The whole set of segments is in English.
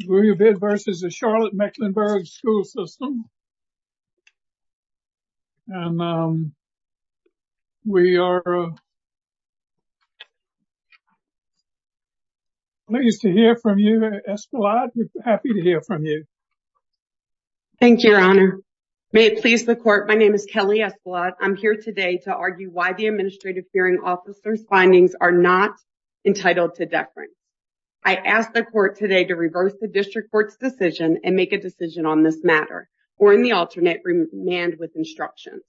Louis Bouabid v. Charlotte-Mecklenburg School System And we are pleased to hear from you, Escolade. Happy to hear from you. Thank you, Your Honor. May it please the Court, my name is Kelly Escolade. I'm here today to argue why the Administrative Hearing Officer's findings are not entitled to deference. I ask the Court today to reverse the District Court's decision and make a decision on this matter, or in the alternate, remand with instructions.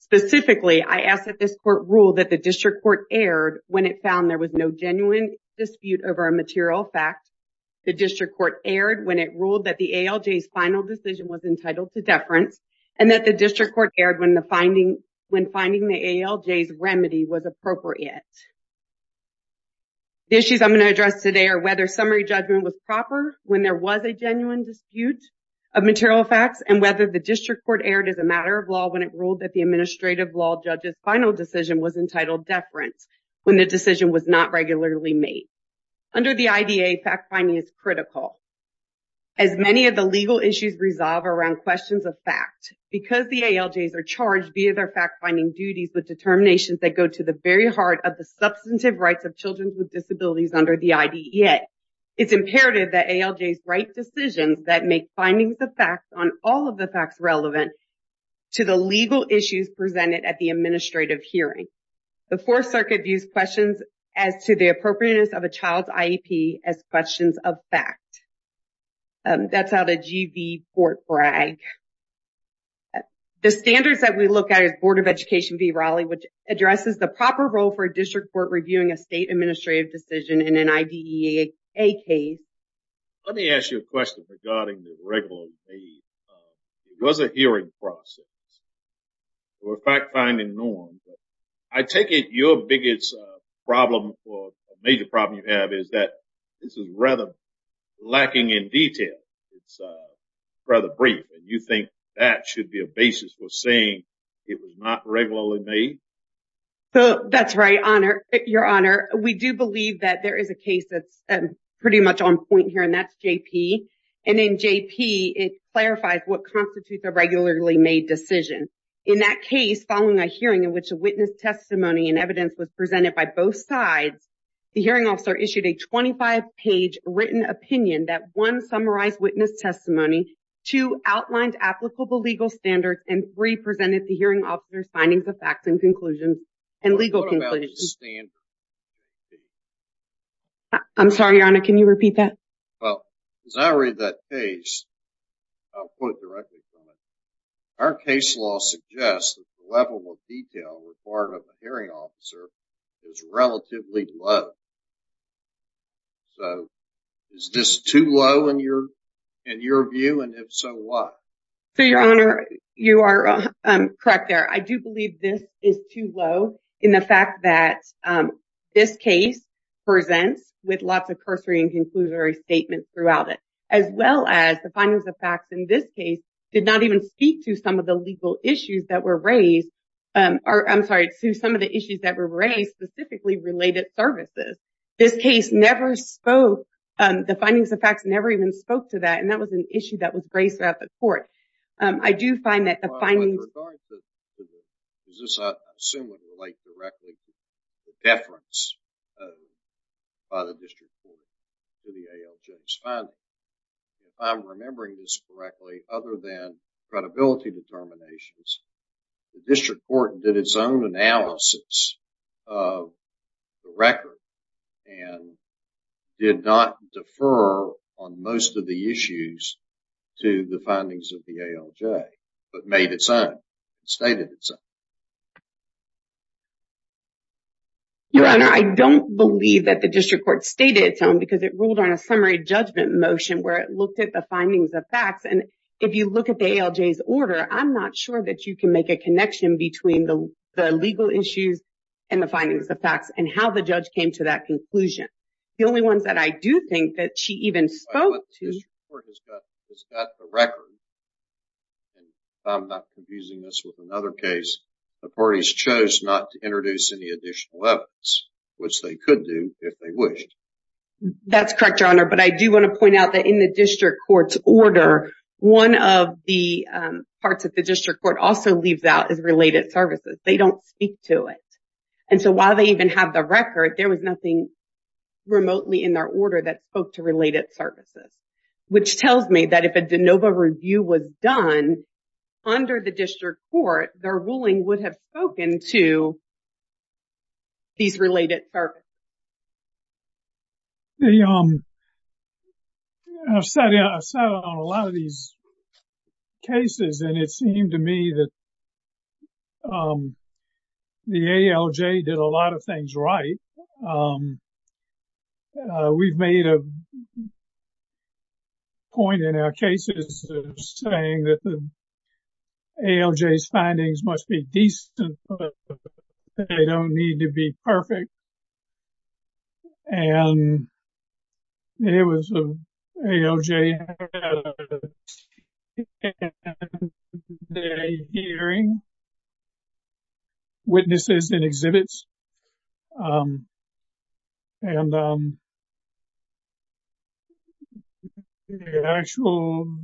Specifically, I ask that this Court rule that the District Court erred when it found there was no genuine dispute over a material fact, the District Court erred when it ruled that the ALJ's final decision was entitled to deference, and that the District Court erred when finding the ALJ's remedy was appropriate. The issues I'm going to address today are whether summary judgment was proper when there was a genuine dispute of material facts and whether the District Court erred as a matter of law when it ruled that the Administrative Law Judge's final decision was entitled deference when the decision was not regularly made. Under the IDA, fact-finding is critical. As many of the legal issues resolve around questions of fact, because the ALJs are charged via their fact-finding duties with determinations that go to the very heart of the substantive rights of children with disabilities under the IDEA, it's imperative that ALJs write decisions that make findings of facts on all of the facts relevant to the legal issues presented at the Administrative Hearing. The Fourth Circuit views questions as to the appropriateness of a child's IEP as questions of fact. That's out of G.V. Fort Bragg. The standards that we look at is Board of Education v. Raleigh, which addresses the proper role for a District Court reviewing a state administrative decision in an IDEA case. Let me ask you a question regarding the regularly made. There was a hearing process for fact-finding norms. I take it your biggest problem or major problem you have is that this is rather lacking in detail. It's rather brief. And you think that should be a basis for saying it was not regularly made? That's right, Your Honor. We do believe that there is a case that's pretty much on point here, and that's J.P. And in J.P., it clarifies what constitutes a regularly made decision. In that case, following a hearing in which a witness testimony and evidence was presented by both sides, the hearing officer issued a 25-page written opinion that 1. summarized witness testimony, 2. outlined applicable legal standards, and 3. presented the hearing officer's findings of facts and legal conclusions. What about the standards? I'm sorry, Your Honor. Can you repeat that? Well, as I read that case, I'll put it directly to you. Our case law suggests that the level of detail required of a hearing officer is relatively low. So, is this too low in your view, and if so, why? So, Your Honor, you are correct there. I do believe this is too low in the fact that this case presents with lots of cursory and conclusive statements throughout it, as well as the findings of facts in this case did not even speak to some of the legal issues that were raised, I'm sorry, to some of the issues that were raised specifically related services. This case never spoke, the findings of facts never even spoke to that, and that was an issue that was raised throughout the court. I do find that the findings... This, I assume, would relate directly to the deference by the district court to the ALJ's findings. If I'm remembering this correctly, other than credibility determinations, the district court did its own analysis of the record and did not defer on most of the issues to the findings of the ALJ, but made its own, stated its own. Your Honor, I don't believe that the district court stated its own because it ruled on a summary judgment motion where it looked at the findings of facts, and if you look at the ALJ's order, I'm not sure that you can make a connection between the legal issues and the findings of facts and how the judge came to that conclusion. The only ones that I do think that she even spoke to... I'm not confusing this with another case. The parties chose not to introduce any additional evidence, which they could do if they wished. That's correct, Your Honor, but I do want to point out that in the district court's order, one of the parts that the district court also leaves out is related services. They don't speak to it, and so while they even have the record, there was nothing remotely in their order that spoke to related services, which tells me that if a de novo review was done under the district court, their ruling would have spoken to these related services. I've sat on a lot of these cases, and it seemed to me that the ALJ did a lot of things right. We've made a point in our cases saying that the ALJ's findings must be decent, but they don't need to be perfect, and the ALJ had a 10-day hearing, witnesses and exhibits, and the actual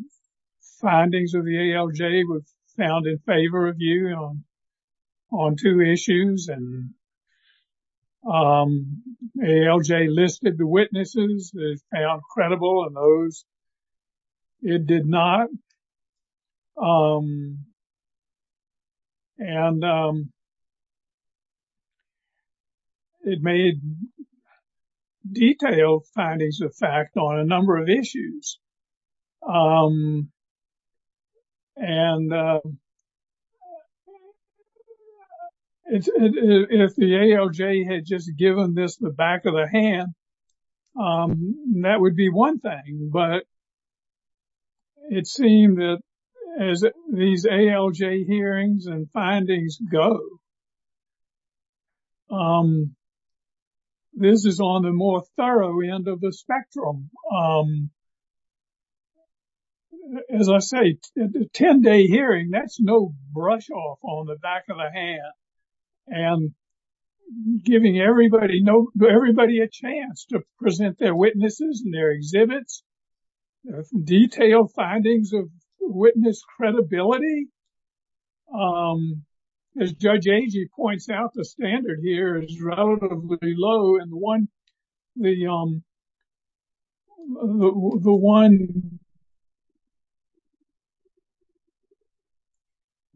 findings of the ALJ were found in favor of you on two issues, and the ALJ listed the witnesses that it found credible, and those it did not. And it made detailed findings of fact on a number of issues, and if the ALJ had just given this the back of the hand, that would be one thing, but it seemed that as these ALJ hearings and findings go, this is on the more thorough end of the spectrum. As I say, a 10-day hearing, that's no brush off on the back of the hand, and giving everybody a chance to present their witnesses and their exhibits, detailed findings of witness credibility. As Judge Agee points out, the standard here is relatively low, and the one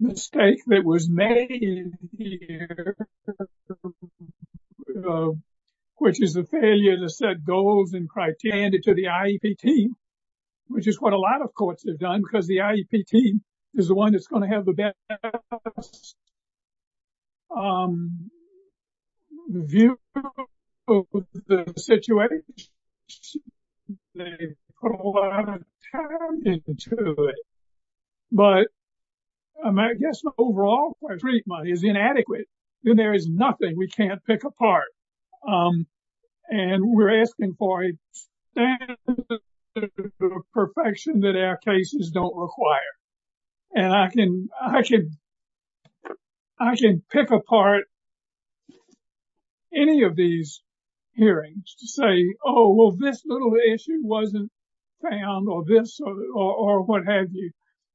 mistake that was made here, which is the failure to set goals and criteria to the IEP team, which is what a lot of courts have done, because the IEP team is the one that's going to have the best view of the situation. They put a lot of time into it, but I guess overall, where treatment is inadequate, then there is nothing we can't pick apart, and we're asking for a standard of perfection that our cases don't require, and I can pick apart any of these hearings to say, oh, well, this little issue wasn't found, or this, or what have you,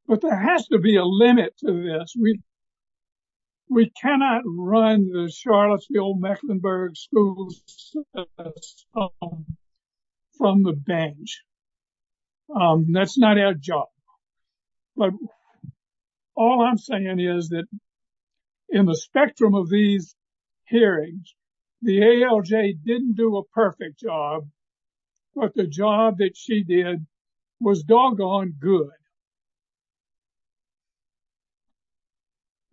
but there has to be a limit to this. We cannot run the Charlottesville-Mecklenburg schools from the bench. That's not our job, but all I'm saying is that in the spectrum of these hearings, the ALJ didn't do a perfect job, but the job that she did was doggone good.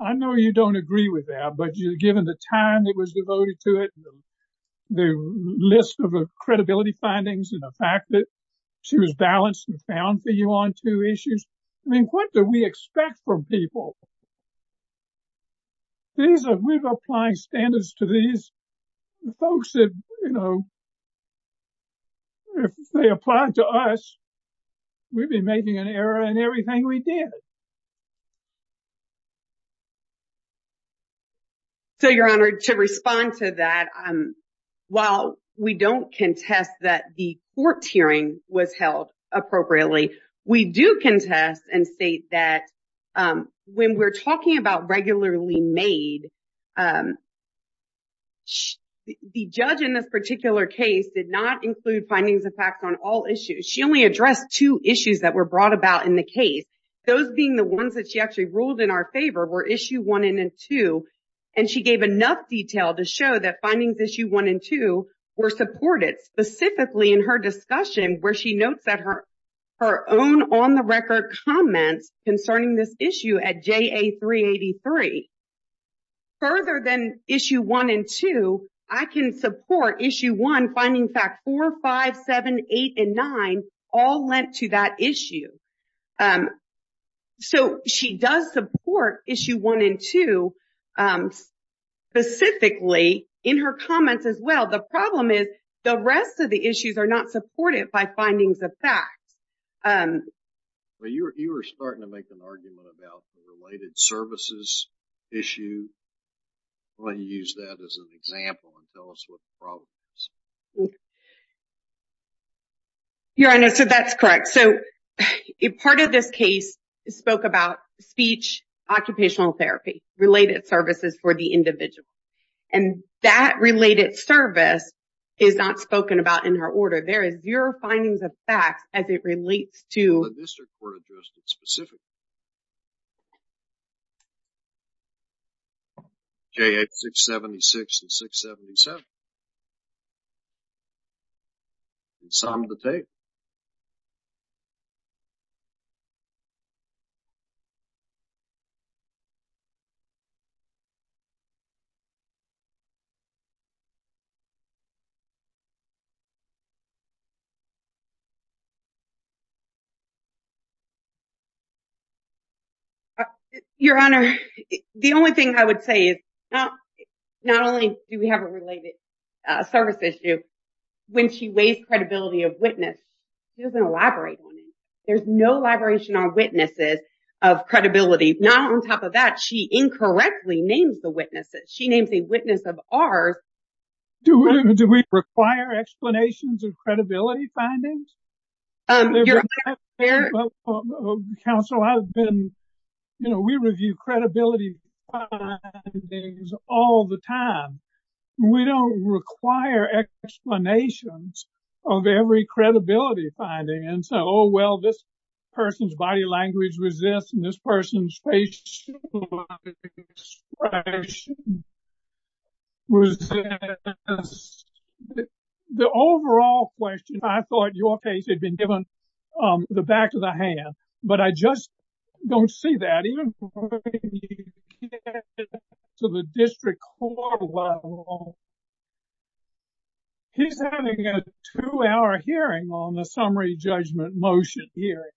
I know you don't agree with that, but given the time that was devoted to it, the list of credibility findings, and the fact that she was balanced and found for you on two issues, I mean, what do we expect from people? We're applying standards to these folks that, if they applied to us, we'd be making an error in everything we did. Your Honor, to respond to that, while we don't contest that the court hearing was held appropriately, we do contest and state that when we're talking about regularly made, the judge in this particular case did not include findings of fact on all issues. She only addressed two issues that were brought about in the case. Those being the ones that she actually ruled in our favor were issue one and two, and she gave enough detail to show that findings issue one and two were supported, specifically in her discussion where she notes that her own on-the-record comments concerning this issue at JA 383. Further than issue one and two, I can support issue one finding fact four, five, seven, eight, and nine, all lent to that issue. So she does support issue one and two specifically in her comments as well. The problem is the rest of the issues are not supported by findings of fact. You were starting to make an argument about the related services issue. Why don't you use that as an example and tell us what the problem is. Your Honor, so that's correct. Part of this case spoke about speech occupational therapy, related services for the individual. And that related service is not spoken about in her order. There is zero findings of fact as it relates to… The district court addressed it specifically. JA 676 and 677. It's time to take. Your Honor, the only thing I would say is not only do we have a related service, a service issue, when she weighs credibility of witness, she doesn't elaborate on it. There's no elaboration on witnesses of credibility. Not on top of that, she incorrectly names the witnesses. She names a witness of ours. Do we require explanations of credibility findings? Your Honor… Counsel, I've been… You know, we review credibility findings all the time. We don't require explanations of every credibility finding. And so, oh, well, this person's body language resists and this person's facial expression resists. The overall question, I thought your case had been given the back of the hand. But I just don't see that. When you get to the district court level, he's having a two-hour hearing on the summary judgment motion hearing.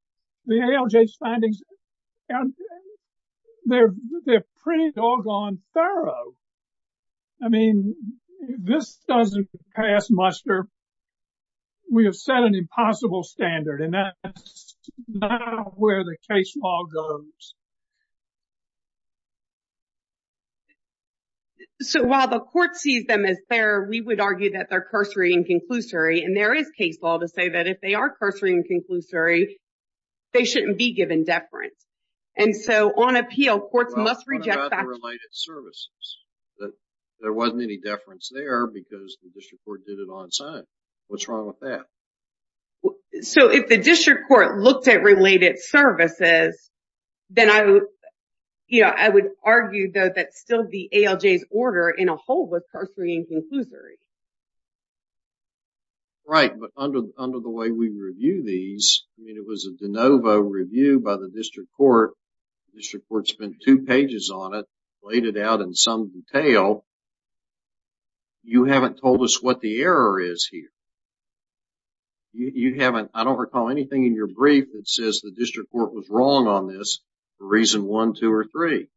The ALJ's findings, they're pretty doggone thorough. I mean, this doesn't pass muster. We have set an impossible standard. And that's not where the case law goes. So, while the court sees them as fair, we would argue that they're cursory and conclusory. And there is case law to say that if they are cursory and conclusory, they shouldn't be given deference. And so, on appeal, courts must reject that. What about the related services? There wasn't any deference there because the district court did it on its own. What's wrong with that? So, if the district court looked at related services, then I would argue, though, that still the ALJ's order in a whole was cursory and conclusory. Right, but under the way we review these, I mean, it was a de novo review by the district court. The district court spent two pages on it, laid it out in some detail. You haven't told us what the error is here. You haven't, I don't recall anything in your brief that says the district court was wrong on this for reason one, two, or three.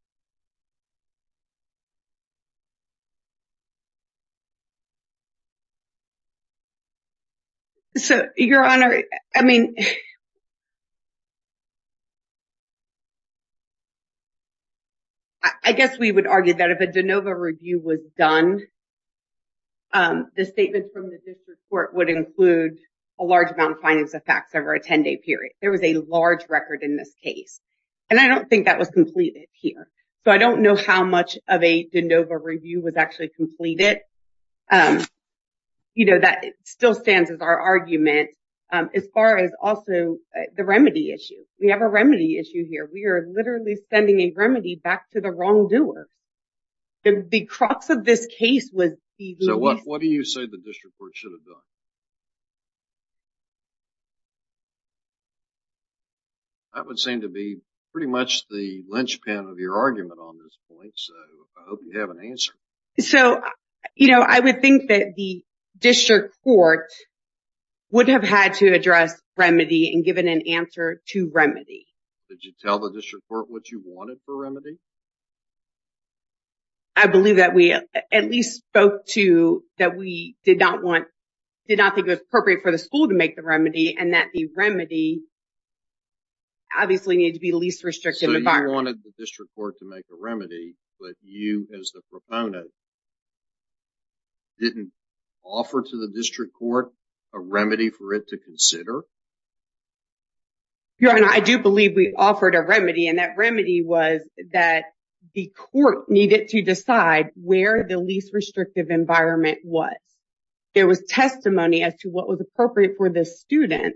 So, Your Honor, I mean, I guess we would argue that if a de novo review was done, the statement from the district court would include a large amount of findings of facts over a 10-day period. There was a large record in this case. And I don't think that was completed here. So, I don't know how much of a de novo review was actually completed. You know, that still stands as our argument. As far as also the remedy issue. We have a remedy issue here. We are literally sending a remedy back to the wrongdoer. The crux of this case was. So, what do you say the district court should have done? That would seem to be pretty much the linchpin of your argument on this point. So, I hope you have an answer. So, you know, I would think that the district court would have had to address remedy and given an answer to remedy. Did you tell the district court what you wanted for remedy? I believe that we at least spoke to that we did not want, did not think it was appropriate for the school to make the remedy, and that the remedy obviously needed to be least restrictive. So, you wanted the district court to make a remedy, but you as the proponent didn't offer to the district court a remedy for it to consider? Your Honor, I do believe we offered a remedy. And that remedy was that the court needed to decide where the least restrictive environment was. There was testimony as to what was appropriate for the student.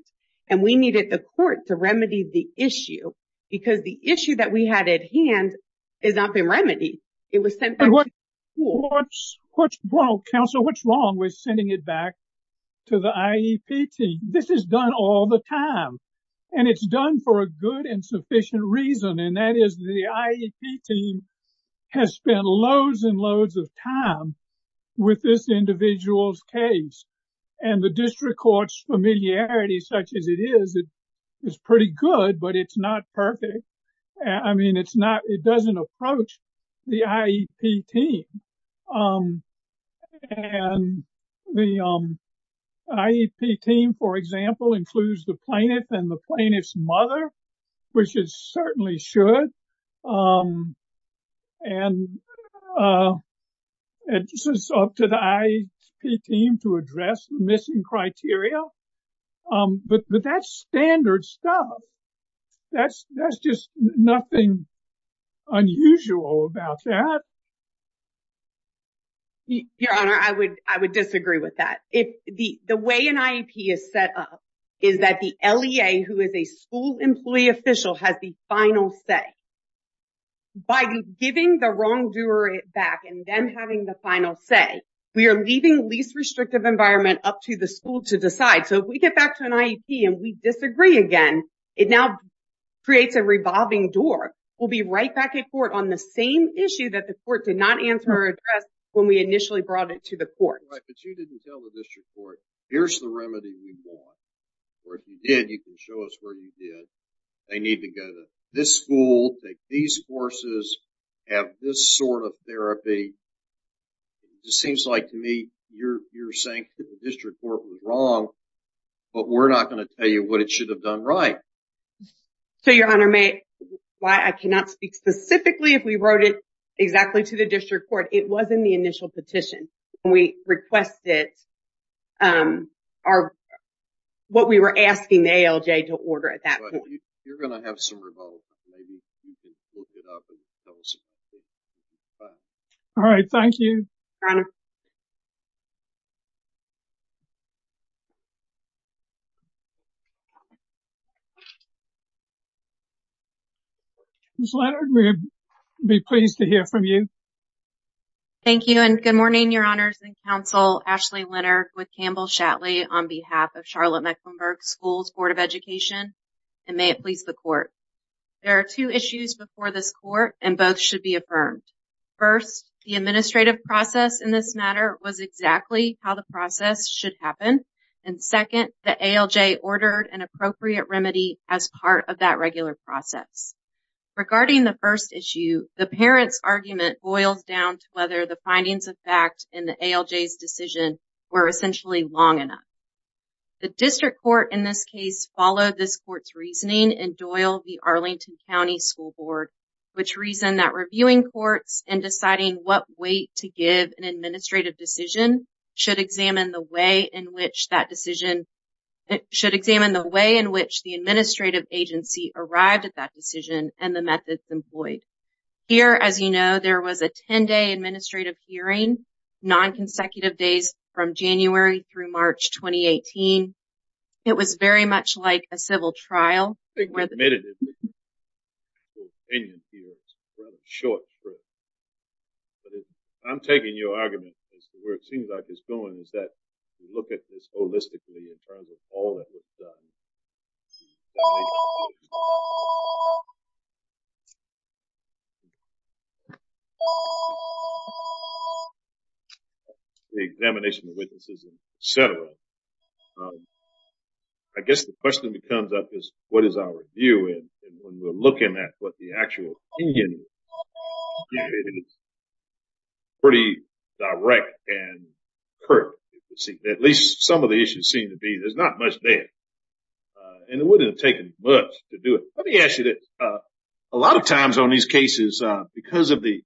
And we needed the court to remedy the issue. Because the issue that we had at hand has not been remedied. It was sent back to the school. Well, counsel, what's wrong with sending it back to the IEP team? This is done all the time. And it's done for a good and sufficient reason. And that is the IEP team has spent loads and loads of time with this individual's case. And the district court's familiarity such as it is, is pretty good, but it's not perfect. I mean, it doesn't approach the IEP team. And the IEP team, for example, includes the plaintiff and the plaintiff's mother, which it certainly should. And it's up to the IEP team to address the missing criteria. But that's standard stuff. That's just nothing unusual about that. Your Honor, I would disagree with that. The way an IEP is set up is that the LEA, who is a school employee official, has the final say. By giving the wrongdoer it back and then having the final say, we are leaving least restrictive environment up to the school to decide. So if we get back to an IEP and we disagree again, it now creates a revolving door. We'll be right back at court on the same issue that the court did not answer or address when we initially brought it to the court. Right, but you didn't tell the district court, here's the remedy we want. Or if you did, you can show us where you did. They need to go to this school, take these courses, have this sort of therapy. It seems like to me you're saying that the district court was wrong, but we're not going to tell you what it should have done right. So, Your Honor, I cannot speak specifically if we wrote it exactly to the district court. It was in the initial petition. We requested what we were asking the ALJ to order at that point. You're going to have some revolve. All right, thank you. Ms. Leonard, we'd be pleased to hear from you. Thank you and good morning, Your Honors and counsel. with Campbell Shatley on behalf of Charlotte Mecklenburg School's Board of Education and may it please the court. There are two issues before this court and both should be affirmed. First, the administrative process in this matter was exactly how the process should happen. And second, the ALJ ordered an appropriate remedy as part of that regular process. Regarding the first issue, the parent's argument boils down to whether the findings of fact in the ALJ's decision were essentially long enough. The district court in this case followed this court's reasoning and Doyle v. Arlington County School Board, which reasoned that reviewing courts and deciding what weight to give an administrative decision should examine the way in which that decision should examine the way in which the administrative agency arrived at that decision and the methods employed. Here, as you know, there was a 10-day administrative hearing, non-consecutive days from January through March 2018. It was very much like a civil trial. I think we've admitted that your opinion here is rather short-term. I'm taking your argument as to where it seems like it's going is that you look at this holistically in terms of all that was done, the examination of witnesses, et cetera. I guess the question that comes up is, what is our view? And when we're looking at what the actual opinion is, it is pretty direct and curt. At least some of the issues seem to be there's not much there, and it wouldn't have taken much to do it. Let me ask you this. A lot of times on these cases, because the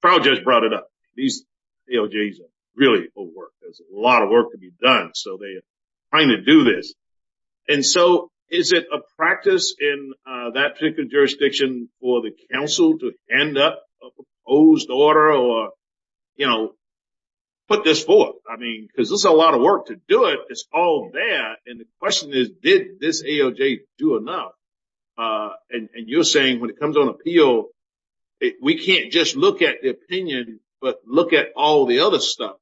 trial judge brought it up, these ALJs are really overworked. There's a lot of work to be done, so they're trying to do this. And so is it a practice in that particular jurisdiction for the council to hand up a proposed order or put this forth? Because there's a lot of work to do it. It's all there. And the question is, did this ALJ do enough? And you're saying when it comes on appeal, we can't just look at the opinion but look at all the other stuff.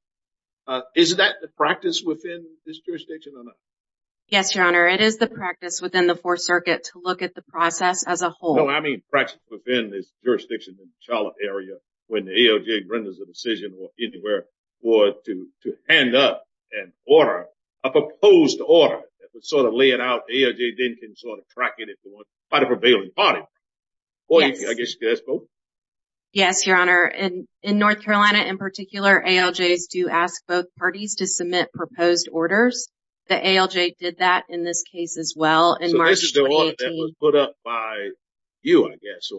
Is that the practice within this jurisdiction or not? Yes, Your Honor. It is the practice within the Fourth Circuit to look at the process as a whole. No, I mean practice within this jurisdiction in the Charlotte area when the ALJ renders a decision or anywhere for it to hand up an order, a proposed order that would sort of lay it out. The ALJ then can sort of track it if they want by the prevailing party. Yes. I guess that's both. Yes, Your Honor. In North Carolina in particular, ALJs do ask both parties to submit proposed orders. The ALJ did that in this case as well in March 2018. Was there an order that was put up by you, I guess?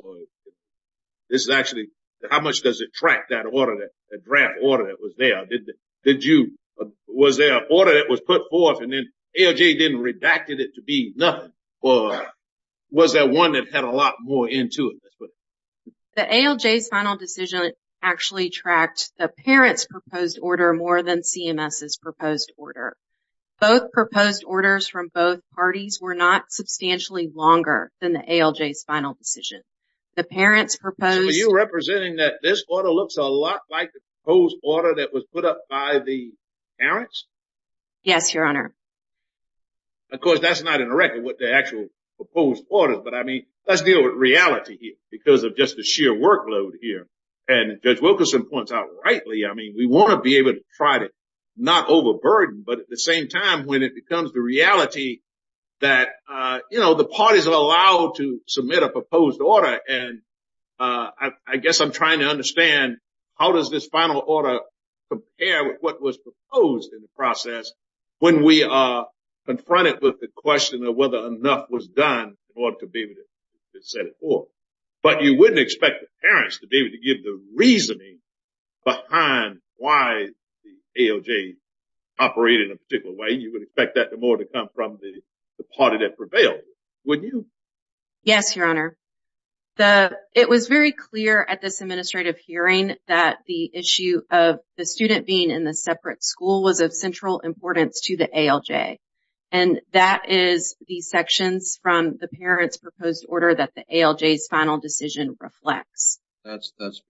This is actually how much does it track that draft order that was there? Was there an order that was put forth and then ALJ then redacted it to be nothing? Or was there one that had a lot more into it? The ALJ's final decision actually tracked the parent's proposed order more than CMS's proposed order. Both proposed orders from both parties were not substantially longer than the ALJ's final decision. The parent's proposed— So are you representing that this order looks a lot like the proposed order that was put up by the parents? Yes, Your Honor. Of course, that's not in the record what the actual proposed order is. But, I mean, let's deal with reality here because of just the sheer workload here. And Judge Wilkerson points out rightly, I mean, we want to be able to try to not overburden but at the same time when it becomes the reality that, you know, the parties are allowed to submit a proposed order. And I guess I'm trying to understand how does this final order compare with what was proposed in the process when we are confronted with the question of whether enough was done in order to be able to set it forth. But you wouldn't expect the parents to be able to give the reasoning behind why the ALJ operated in a particular way. You would expect that more to come from the party that prevailed, wouldn't you? Yes, Your Honor. It was very clear at this administrative hearing that the issue of the student being in a separate school was of central importance to the ALJ. And that is the sections from the parents' proposed order that the ALJ's final decision reflects. That's because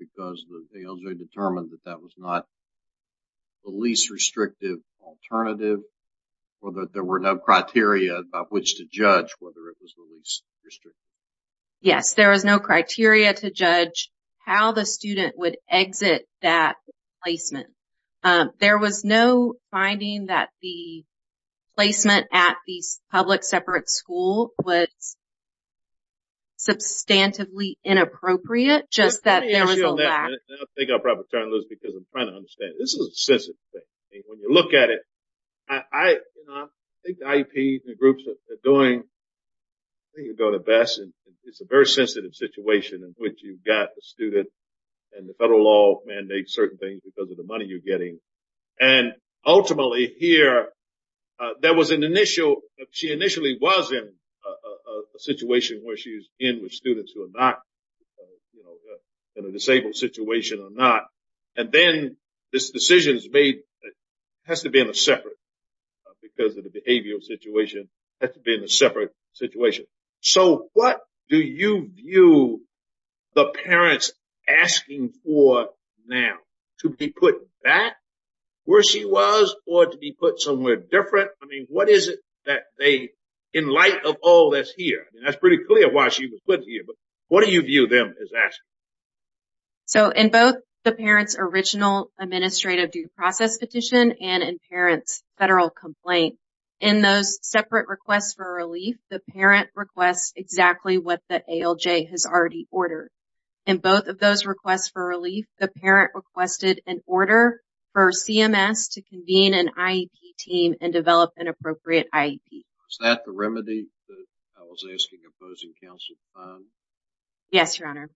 the ALJ determined that that was not the least restrictive alternative or that there were no criteria by which to judge whether it was the least restrictive. Yes, there was no criteria to judge how the student would exit that placement. There was no finding that the placement at the public separate school was substantively inappropriate, just that there was a lack. Let me ask you on that. I think I'm probably trying to lose because I'm trying to understand. This is a sensitive thing. When you look at it, I think the IEPs and the groups are doing, I think they're doing the best. It's a very sensitive situation in which you've got the student and the federal law mandates certain things because of the money you're getting. And ultimately here, she initially was in a situation where she's in with students who are not in a disabled situation or not. And then this decision has to be in a separate, because of the behavioral situation, has to be in a separate situation. So what do you view the parents asking for now? To be put back where she was or to be put somewhere different? I mean, what is it that they, in light of all that's here, that's pretty clear why she was put here. But what do you view them as asking? So in both the parents' original administrative due process petition and in parents' federal complaint, in those separate requests for relief, the parent requests exactly what the ALJ has already ordered. In both of those requests for relief, the parent requested an order for CMS to convene an IEP team and develop an appropriate IEP. Is that the remedy that I was asking opposing counsel to find? Yes, Your Honor.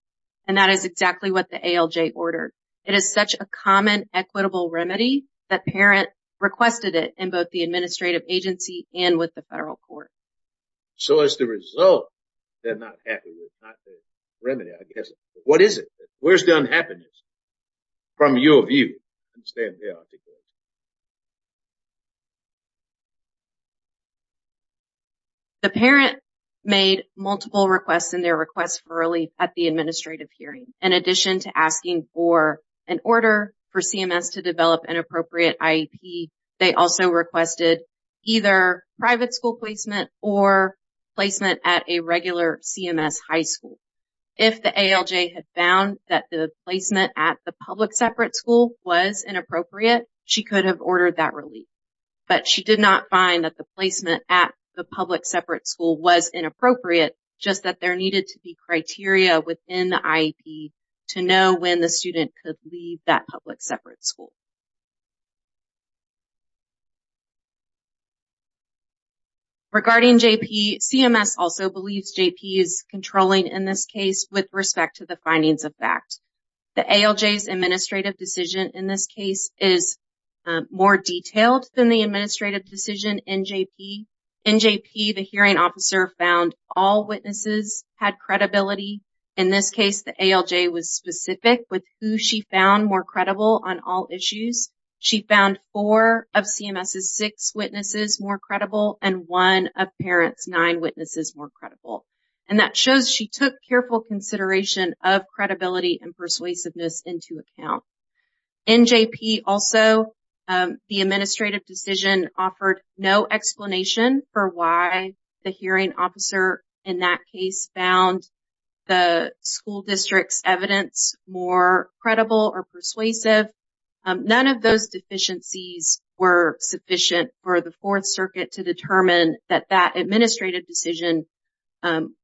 And that is exactly what the ALJ ordered. It is such a common, equitable remedy that parent requested it in both the administrative agency and with the federal court. So as the result, they're not happy with it. Not the remedy, I guess. What is it? Where's the unhappiness from your view? The parent made multiple requests in their request for relief at the administrative hearing. In addition to asking for an order for CMS to develop an appropriate IEP, they also requested either private school placement or placement at a regular CMS high school. If the ALJ had found that the placement at the public separate school was inappropriate, she could have ordered that relief. But she did not find that the placement at the public separate school was inappropriate, just that there needed to be criteria within the IEP to know when the student could leave that public separate school. Regarding JP, CMS also believes JP is controlling in this case with respect to the findings of fact. The ALJ's administrative decision in this case is more detailed than the administrative decision in JP. In JP, the hearing officer found all witnesses had credibility. In this case, the ALJ was specific with who she found more credible on all issues. She found four of CMS's six witnesses more credible and one of parent's nine witnesses more credible. And that shows she took careful consideration of credibility and persuasiveness into account. In JP also, the administrative decision offered no explanation for why the hearing officer in that case found the school district's evidence more credible or persuasive. None of those deficiencies were sufficient for the Fourth Circuit to determine that that administrative decision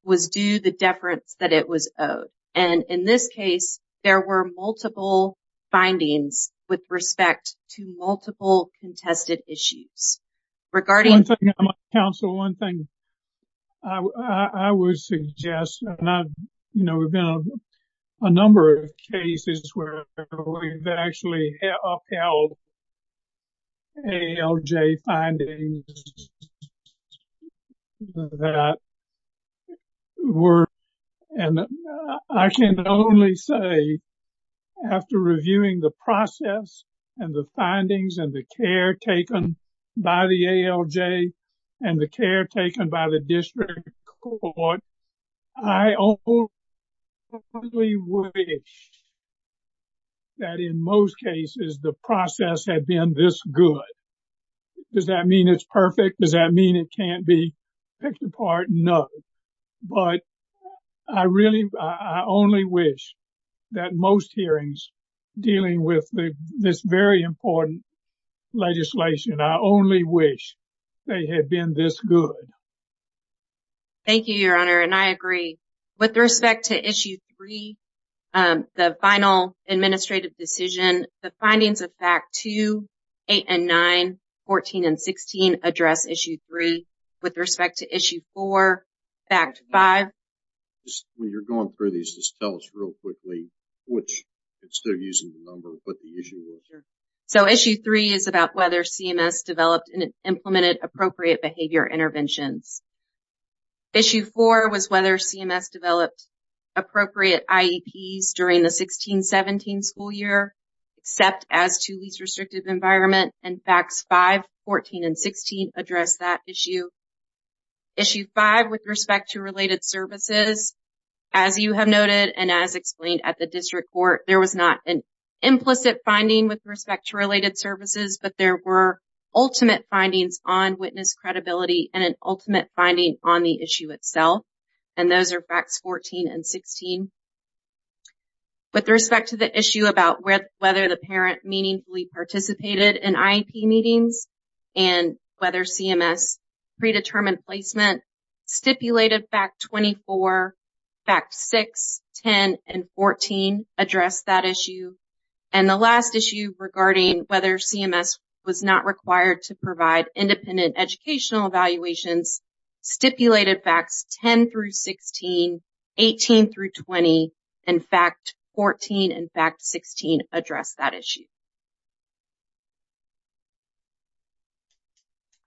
was due the deference that it was owed. And in this case, there were multiple findings with respect to multiple contested issues. One thing, counsel, one thing I would suggest, you know, we've been on a number of cases where we've actually upheld ALJ findings that were, and I can only say after reviewing the process and the findings and the care taken by the ALJ and the care taken by the district court, I only wish that in most cases the process had been this good. Does that mean it's perfect? Does that mean it can't be picked apart? No. But I really, I only wish that most hearings dealing with this very important legislation, I only wish they had been this good. Thank you, Your Honor. And I agree. With respect to Issue 3, the final administrative decision, the findings of Fact 2, 8 and 9, 14 and 16 address Issue 3. With respect to Issue 4, Fact 5. When you're going through these, just tell us real quickly which, because they're using the number, what the issue is. So, Issue 3 is about whether CMS developed and implemented appropriate behavior interventions. Issue 4 was whether CMS developed appropriate IEPs during the 16-17 school year, except as to least restrictive environment, and Facts 5, 14 and 16 address that issue. Issue 5, with respect to related services, as you have noted and as explained at the district court, there was not an implicit finding with respect to related services, but there were ultimate findings on witness credibility and an ultimate finding on the issue itself. And those are Facts 14 and 16. With respect to the issue about whether the parent meaningfully participated in IEP meetings and whether CMS predetermined placement, Stipulated Fact 24, Fact 6, 10 and 14 address that issue. And the last issue regarding whether CMS was not required to provide independent educational evaluations, Stipulated Facts 10 through 16, 18 through 20, and Fact 14 and Fact 16 address that issue.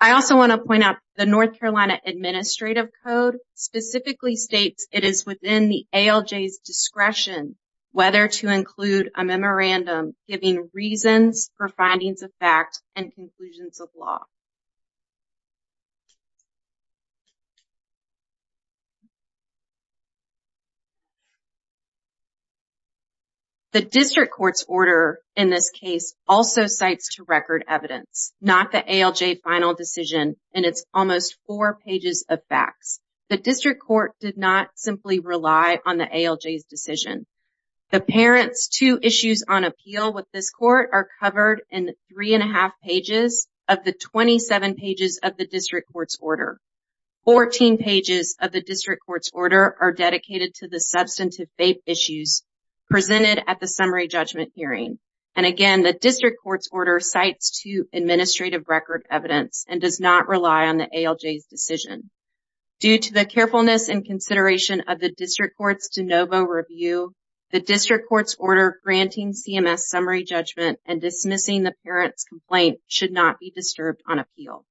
I also want to point out the North Carolina Administrative Code specifically states it is within the ALJ's discretion whether to include a memorandum giving reasons for findings of fact and conclusions of law. The district court's order in this case also cites to record evidence, not the ALJ final decision, and it's almost four pages of facts. The district court did not simply rely on the ALJ's decision. The parent's two issues on appeal with this court are covered in three and a half pages of the 27 pages of the district court's order. Fourteen pages of the district court's order are dedicated to the substantive faith issues presented at the summary judgment hearing. And again, the district court's order cites to administrative record evidence and does not rely on the ALJ's decision. Due to the carefulness and consideration of the district court's de novo review, the district court's order granting CMS summary judgment and dismissing the parent's complaint should not be disturbed on appeal.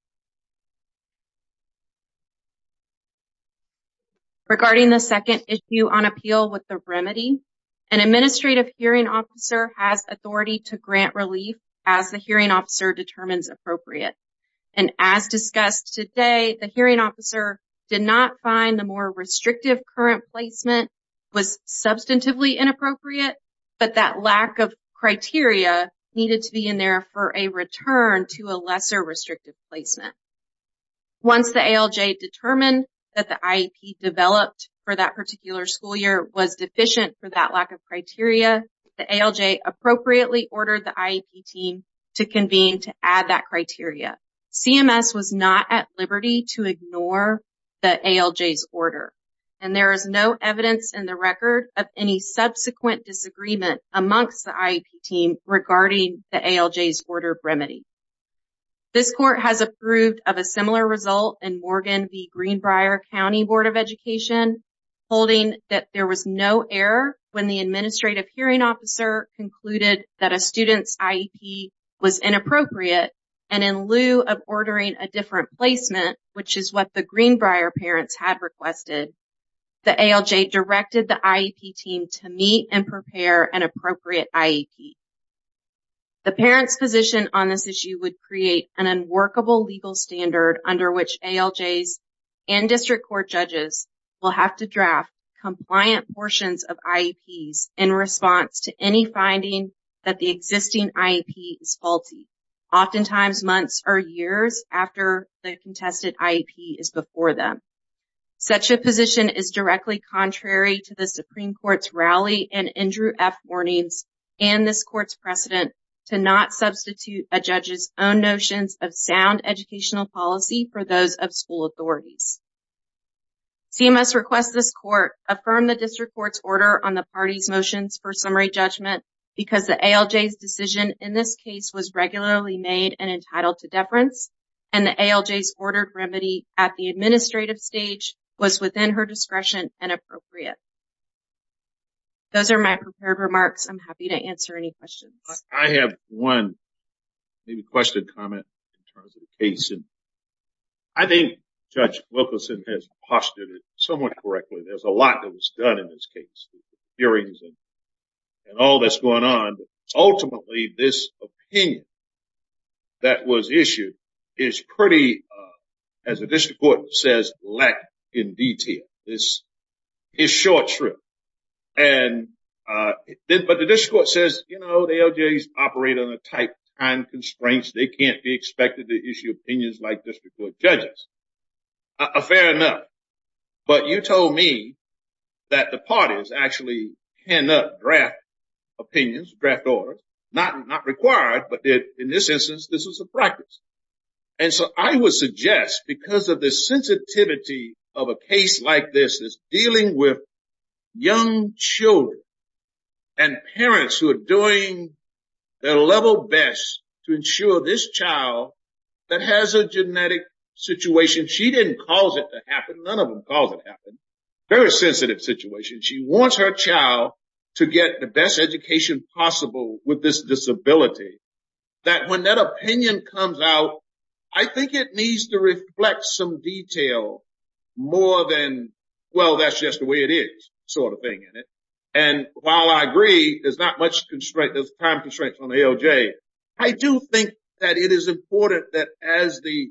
Regarding the second issue on appeal with the remedy, an administrative hearing officer has authority to grant relief as the hearing officer determines appropriate. And as discussed today, the hearing officer did not find the more restrictive current placement was substantively inappropriate, but that lack of criteria needed to be in there for a return to a lesser restrictive placement. Once the ALJ determined that the IEP developed for that particular school year was deficient for that lack of criteria, the ALJ appropriately ordered the IEP team to convene to add that criteria. CMS was not at liberty to ignore the ALJ's order, and there is no evidence in the record of any subsequent disagreement amongst the IEP team regarding the ALJ's order remedy. This court has approved of a similar result in Morgan v. Greenbrier County Board of Education, holding that there was no error when the administrative hearing officer concluded that a student's IEP was inappropriate, and in lieu of ordering a different placement, which is what the Greenbrier parents had requested, the ALJ directed the IEP team to meet and prepare an appropriate IEP. The parent's position on this issue would create an unworkable legal standard under which ALJs and district court judges will have to draft compliant portions of IEPs in response to any finding that the existing IEP is faulty, oftentimes months or years after the contested IEP is before them. Such a position is directly contrary to the Supreme Court's Rally and Andrew F. Warnings and this court's precedent to not substitute a judge's own notions of sound educational policy for those of school authorities. CMS requests this court affirm the district court's order on the party's motions for summary judgment because the ALJ's decision in this case was regularly made and entitled to deference, and the ALJ's ordered remedy at the administrative stage was within her discretion and appropriate. Those are my prepared remarks. I'm happy to answer any questions. I have one question or comment in terms of the case. I think Judge Wilkerson has postured it somewhat correctly. There's a lot that was done in this case, hearings and all that's going on. Ultimately, this opinion that was issued is pretty, as the district court says, lacking in detail. It's short shrift. But the district court says, you know, the ALJ's operate on a tight time constraint. They can't be expected to issue opinions like district court judges. Fair enough. But you told me that the parties actually cannot draft opinions, draft orders. Not required, but in this instance, this was a practice. And so I would suggest, because of the sensitivity of a case like this, is dealing with young children and parents who are doing their level best to ensure this child that has a genetic situation. She didn't cause it to happen. None of them caused it to happen. Very sensitive situation. She wants her child to get the best education possible with this disability. That when that opinion comes out, I think it needs to reflect some detail more than, well, that's just the way it is sort of thing. And while I agree, there's not much constraint, there's time constraints on the ALJ. I do think that it is important that as the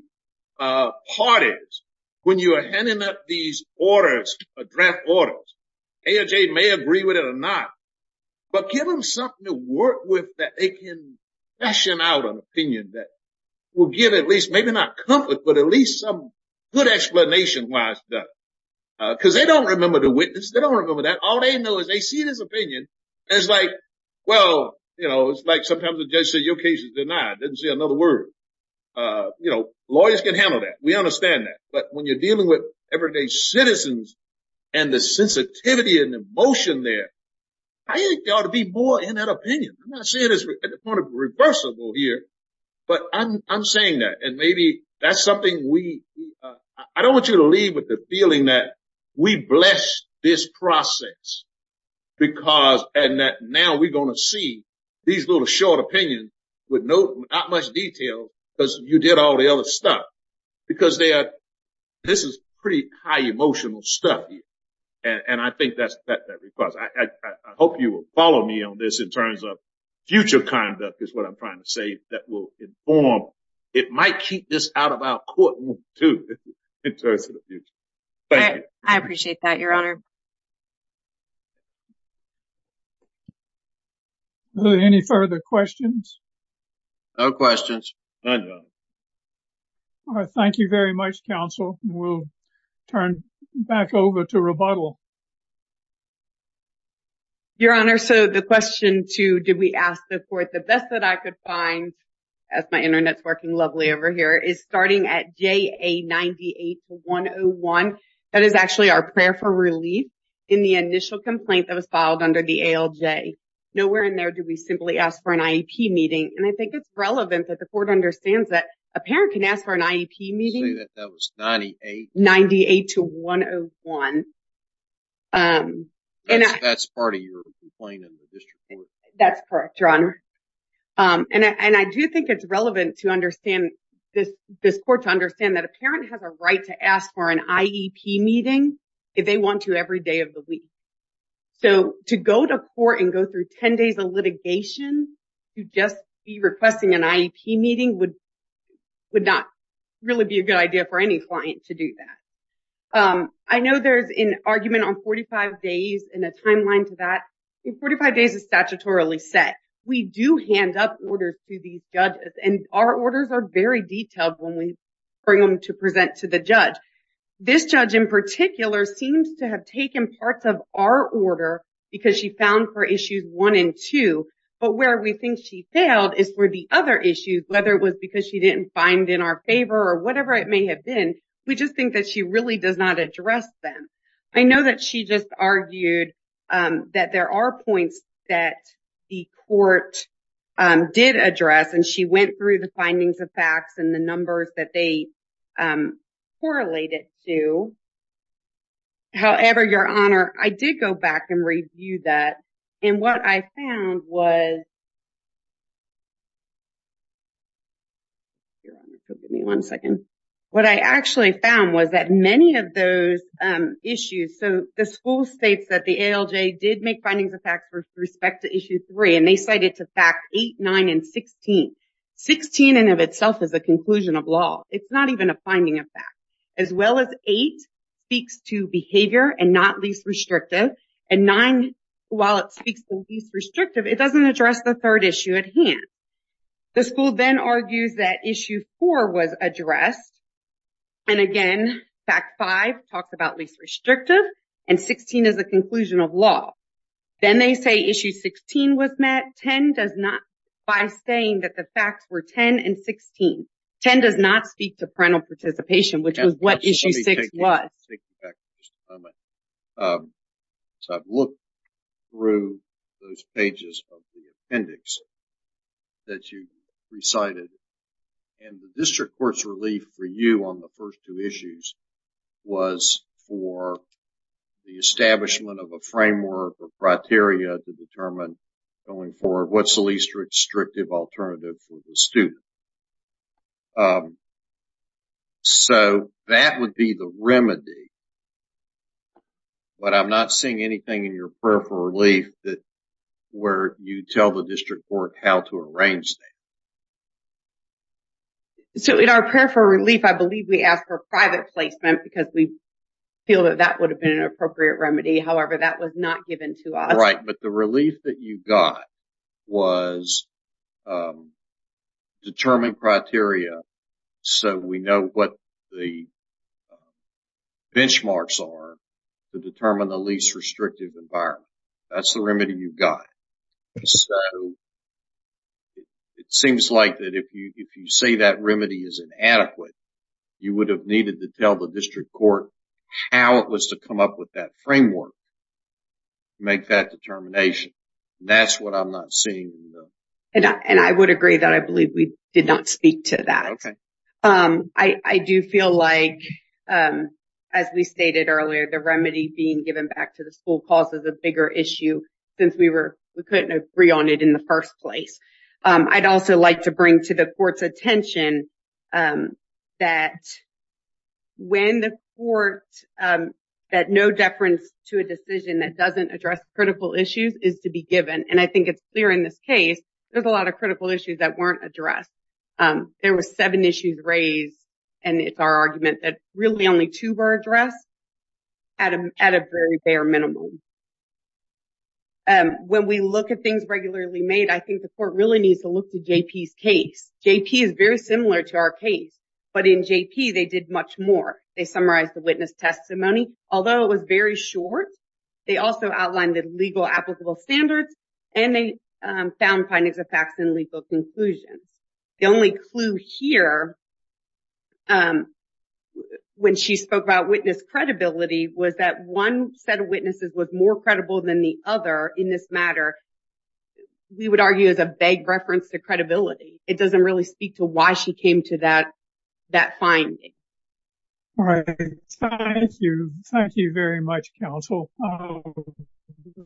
parties, when you are handing up these orders, draft orders, ALJ may agree with it or not. But give them something to work with that they can fashion out an opinion that will give at least, maybe not comfort, but at least some good explanation why it's done. Because they don't remember the witness. They don't remember that. All they know is they see this opinion. It's like, well, you know, it's like sometimes the judge says your case is denied. Didn't see another word. You know, lawyers can handle that. We understand that. But when you're dealing with everyday citizens and the sensitivity and emotion there, I think there ought to be more in that opinion. I'm not saying this at the point of reversible here, but I'm saying that. And maybe that's something we, I don't want you to leave with the feeling that we blessed this process because, and that now we're going to see these little short opinions with not much detail because you did all the other stuff. Because they are. This is pretty high emotional stuff. And I think that's that that requires I hope you will follow me on this in terms of future conduct is what I'm trying to say that will inform. It might keep this out of our courtroom, too, in terms of the future. I appreciate that, Your Honor. Any further questions? No questions. Thank you very much, counsel. We'll turn back over to rebuttal. Your Honor, so the question to do we ask the court the best that I could find as my Internet's working lovely over here is starting at J. A. 98 to 101. That is actually our prayer for relief in the initial complaint that was filed under the ALJ. Nowhere in there do we simply ask for an IEP meeting. And I think it's relevant that the court understands that a parent can ask for an IEP meeting that was 98, 98 to 101. And that's part of your complaint in the district court. That's correct. And I do think it's relevant to understand this court to understand that a parent has a right to ask for an IEP meeting if they want to every day of the week. So to go to court and go through 10 days of litigation to just be requesting an IEP meeting would would not really be a good idea for any client to do that. I know there's an argument on 45 days and a timeline to that 45 days is statutorily set. We do hand up orders to these judges and our orders are very detailed when we bring them to present to the judge. This judge in particular seems to have taken parts of our order because she found for issues one and two. But where we think she failed is where the other issues, whether it was because she didn't find in our favor or whatever it may have been. We just think that she really does not address them. I know that she just argued that there are points that the court did address and she went through the findings of facts and the numbers that they correlated to. However, Your Honor, I did go back and review that. And what I found was. Your Honor, give me one second. What I actually found was that many of those issues. So the school states that the ALJ did make findings of fact for respect to issue three and they cited to fact eight, nine and 16. 16 in and of itself is a conclusion of law. It's not even a finding of fact. As well as eight speaks to behavior and not least restrictive. And nine, while it speaks to least restrictive, it doesn't address the third issue at hand. The school then argues that issue four was addressed. And again, fact five talked about least restrictive and 16 is a conclusion of law. Then they say issue 16 was met. By saying that the facts were 10 and 16. 10 does not speak to parental participation, which is what issue six was. So I've looked through those pages of the appendix that you recited. And the district court's relief for you on the first two issues was for the establishment of a framework or criteria to determine going forward what's the least restrictive alternative for the student. So that would be the remedy. But I'm not seeing anything in your prayer for relief that where you tell the district court how to arrange that. So in our prayer for relief, I believe we ask for private placement because we feel that that would have been an appropriate remedy. However, that was not given to us. Right. But the relief that you got was determined criteria. So we know what the benchmarks are to determine the least restrictive environment. That's the remedy you've got. So it seems like that if you say that remedy is inadequate, you would have needed to tell the district court how it was to come up with that framework. Make that determination. That's what I'm not seeing. And I would agree that I believe we did not speak to that. I do feel like, as we stated earlier, the remedy being given back to the school causes a bigger issue since we were we couldn't agree on it in the first place. I'd also like to bring to the court's attention that when the court that no deference to a decision that doesn't address critical issues is to be given. And I think it's clear in this case, there's a lot of critical issues that weren't addressed. There were seven issues raised. And it's our argument that really only two were addressed at a very bare minimum. When we look at things regularly made, I think the court really needs to look to J.P.'s case. J.P. is very similar to our case. But in J.P., they did much more. They summarized the witness testimony, although it was very short. They also outlined the legal applicable standards and they found findings of facts and legal conclusions. The only clue here, when she spoke about witness credibility, was that one set of witnesses was more credible than the other in this matter. We would argue as a vague reference to credibility. It doesn't really speak to why she came to that finding. All right. Thank you. Thank you very much, counsel.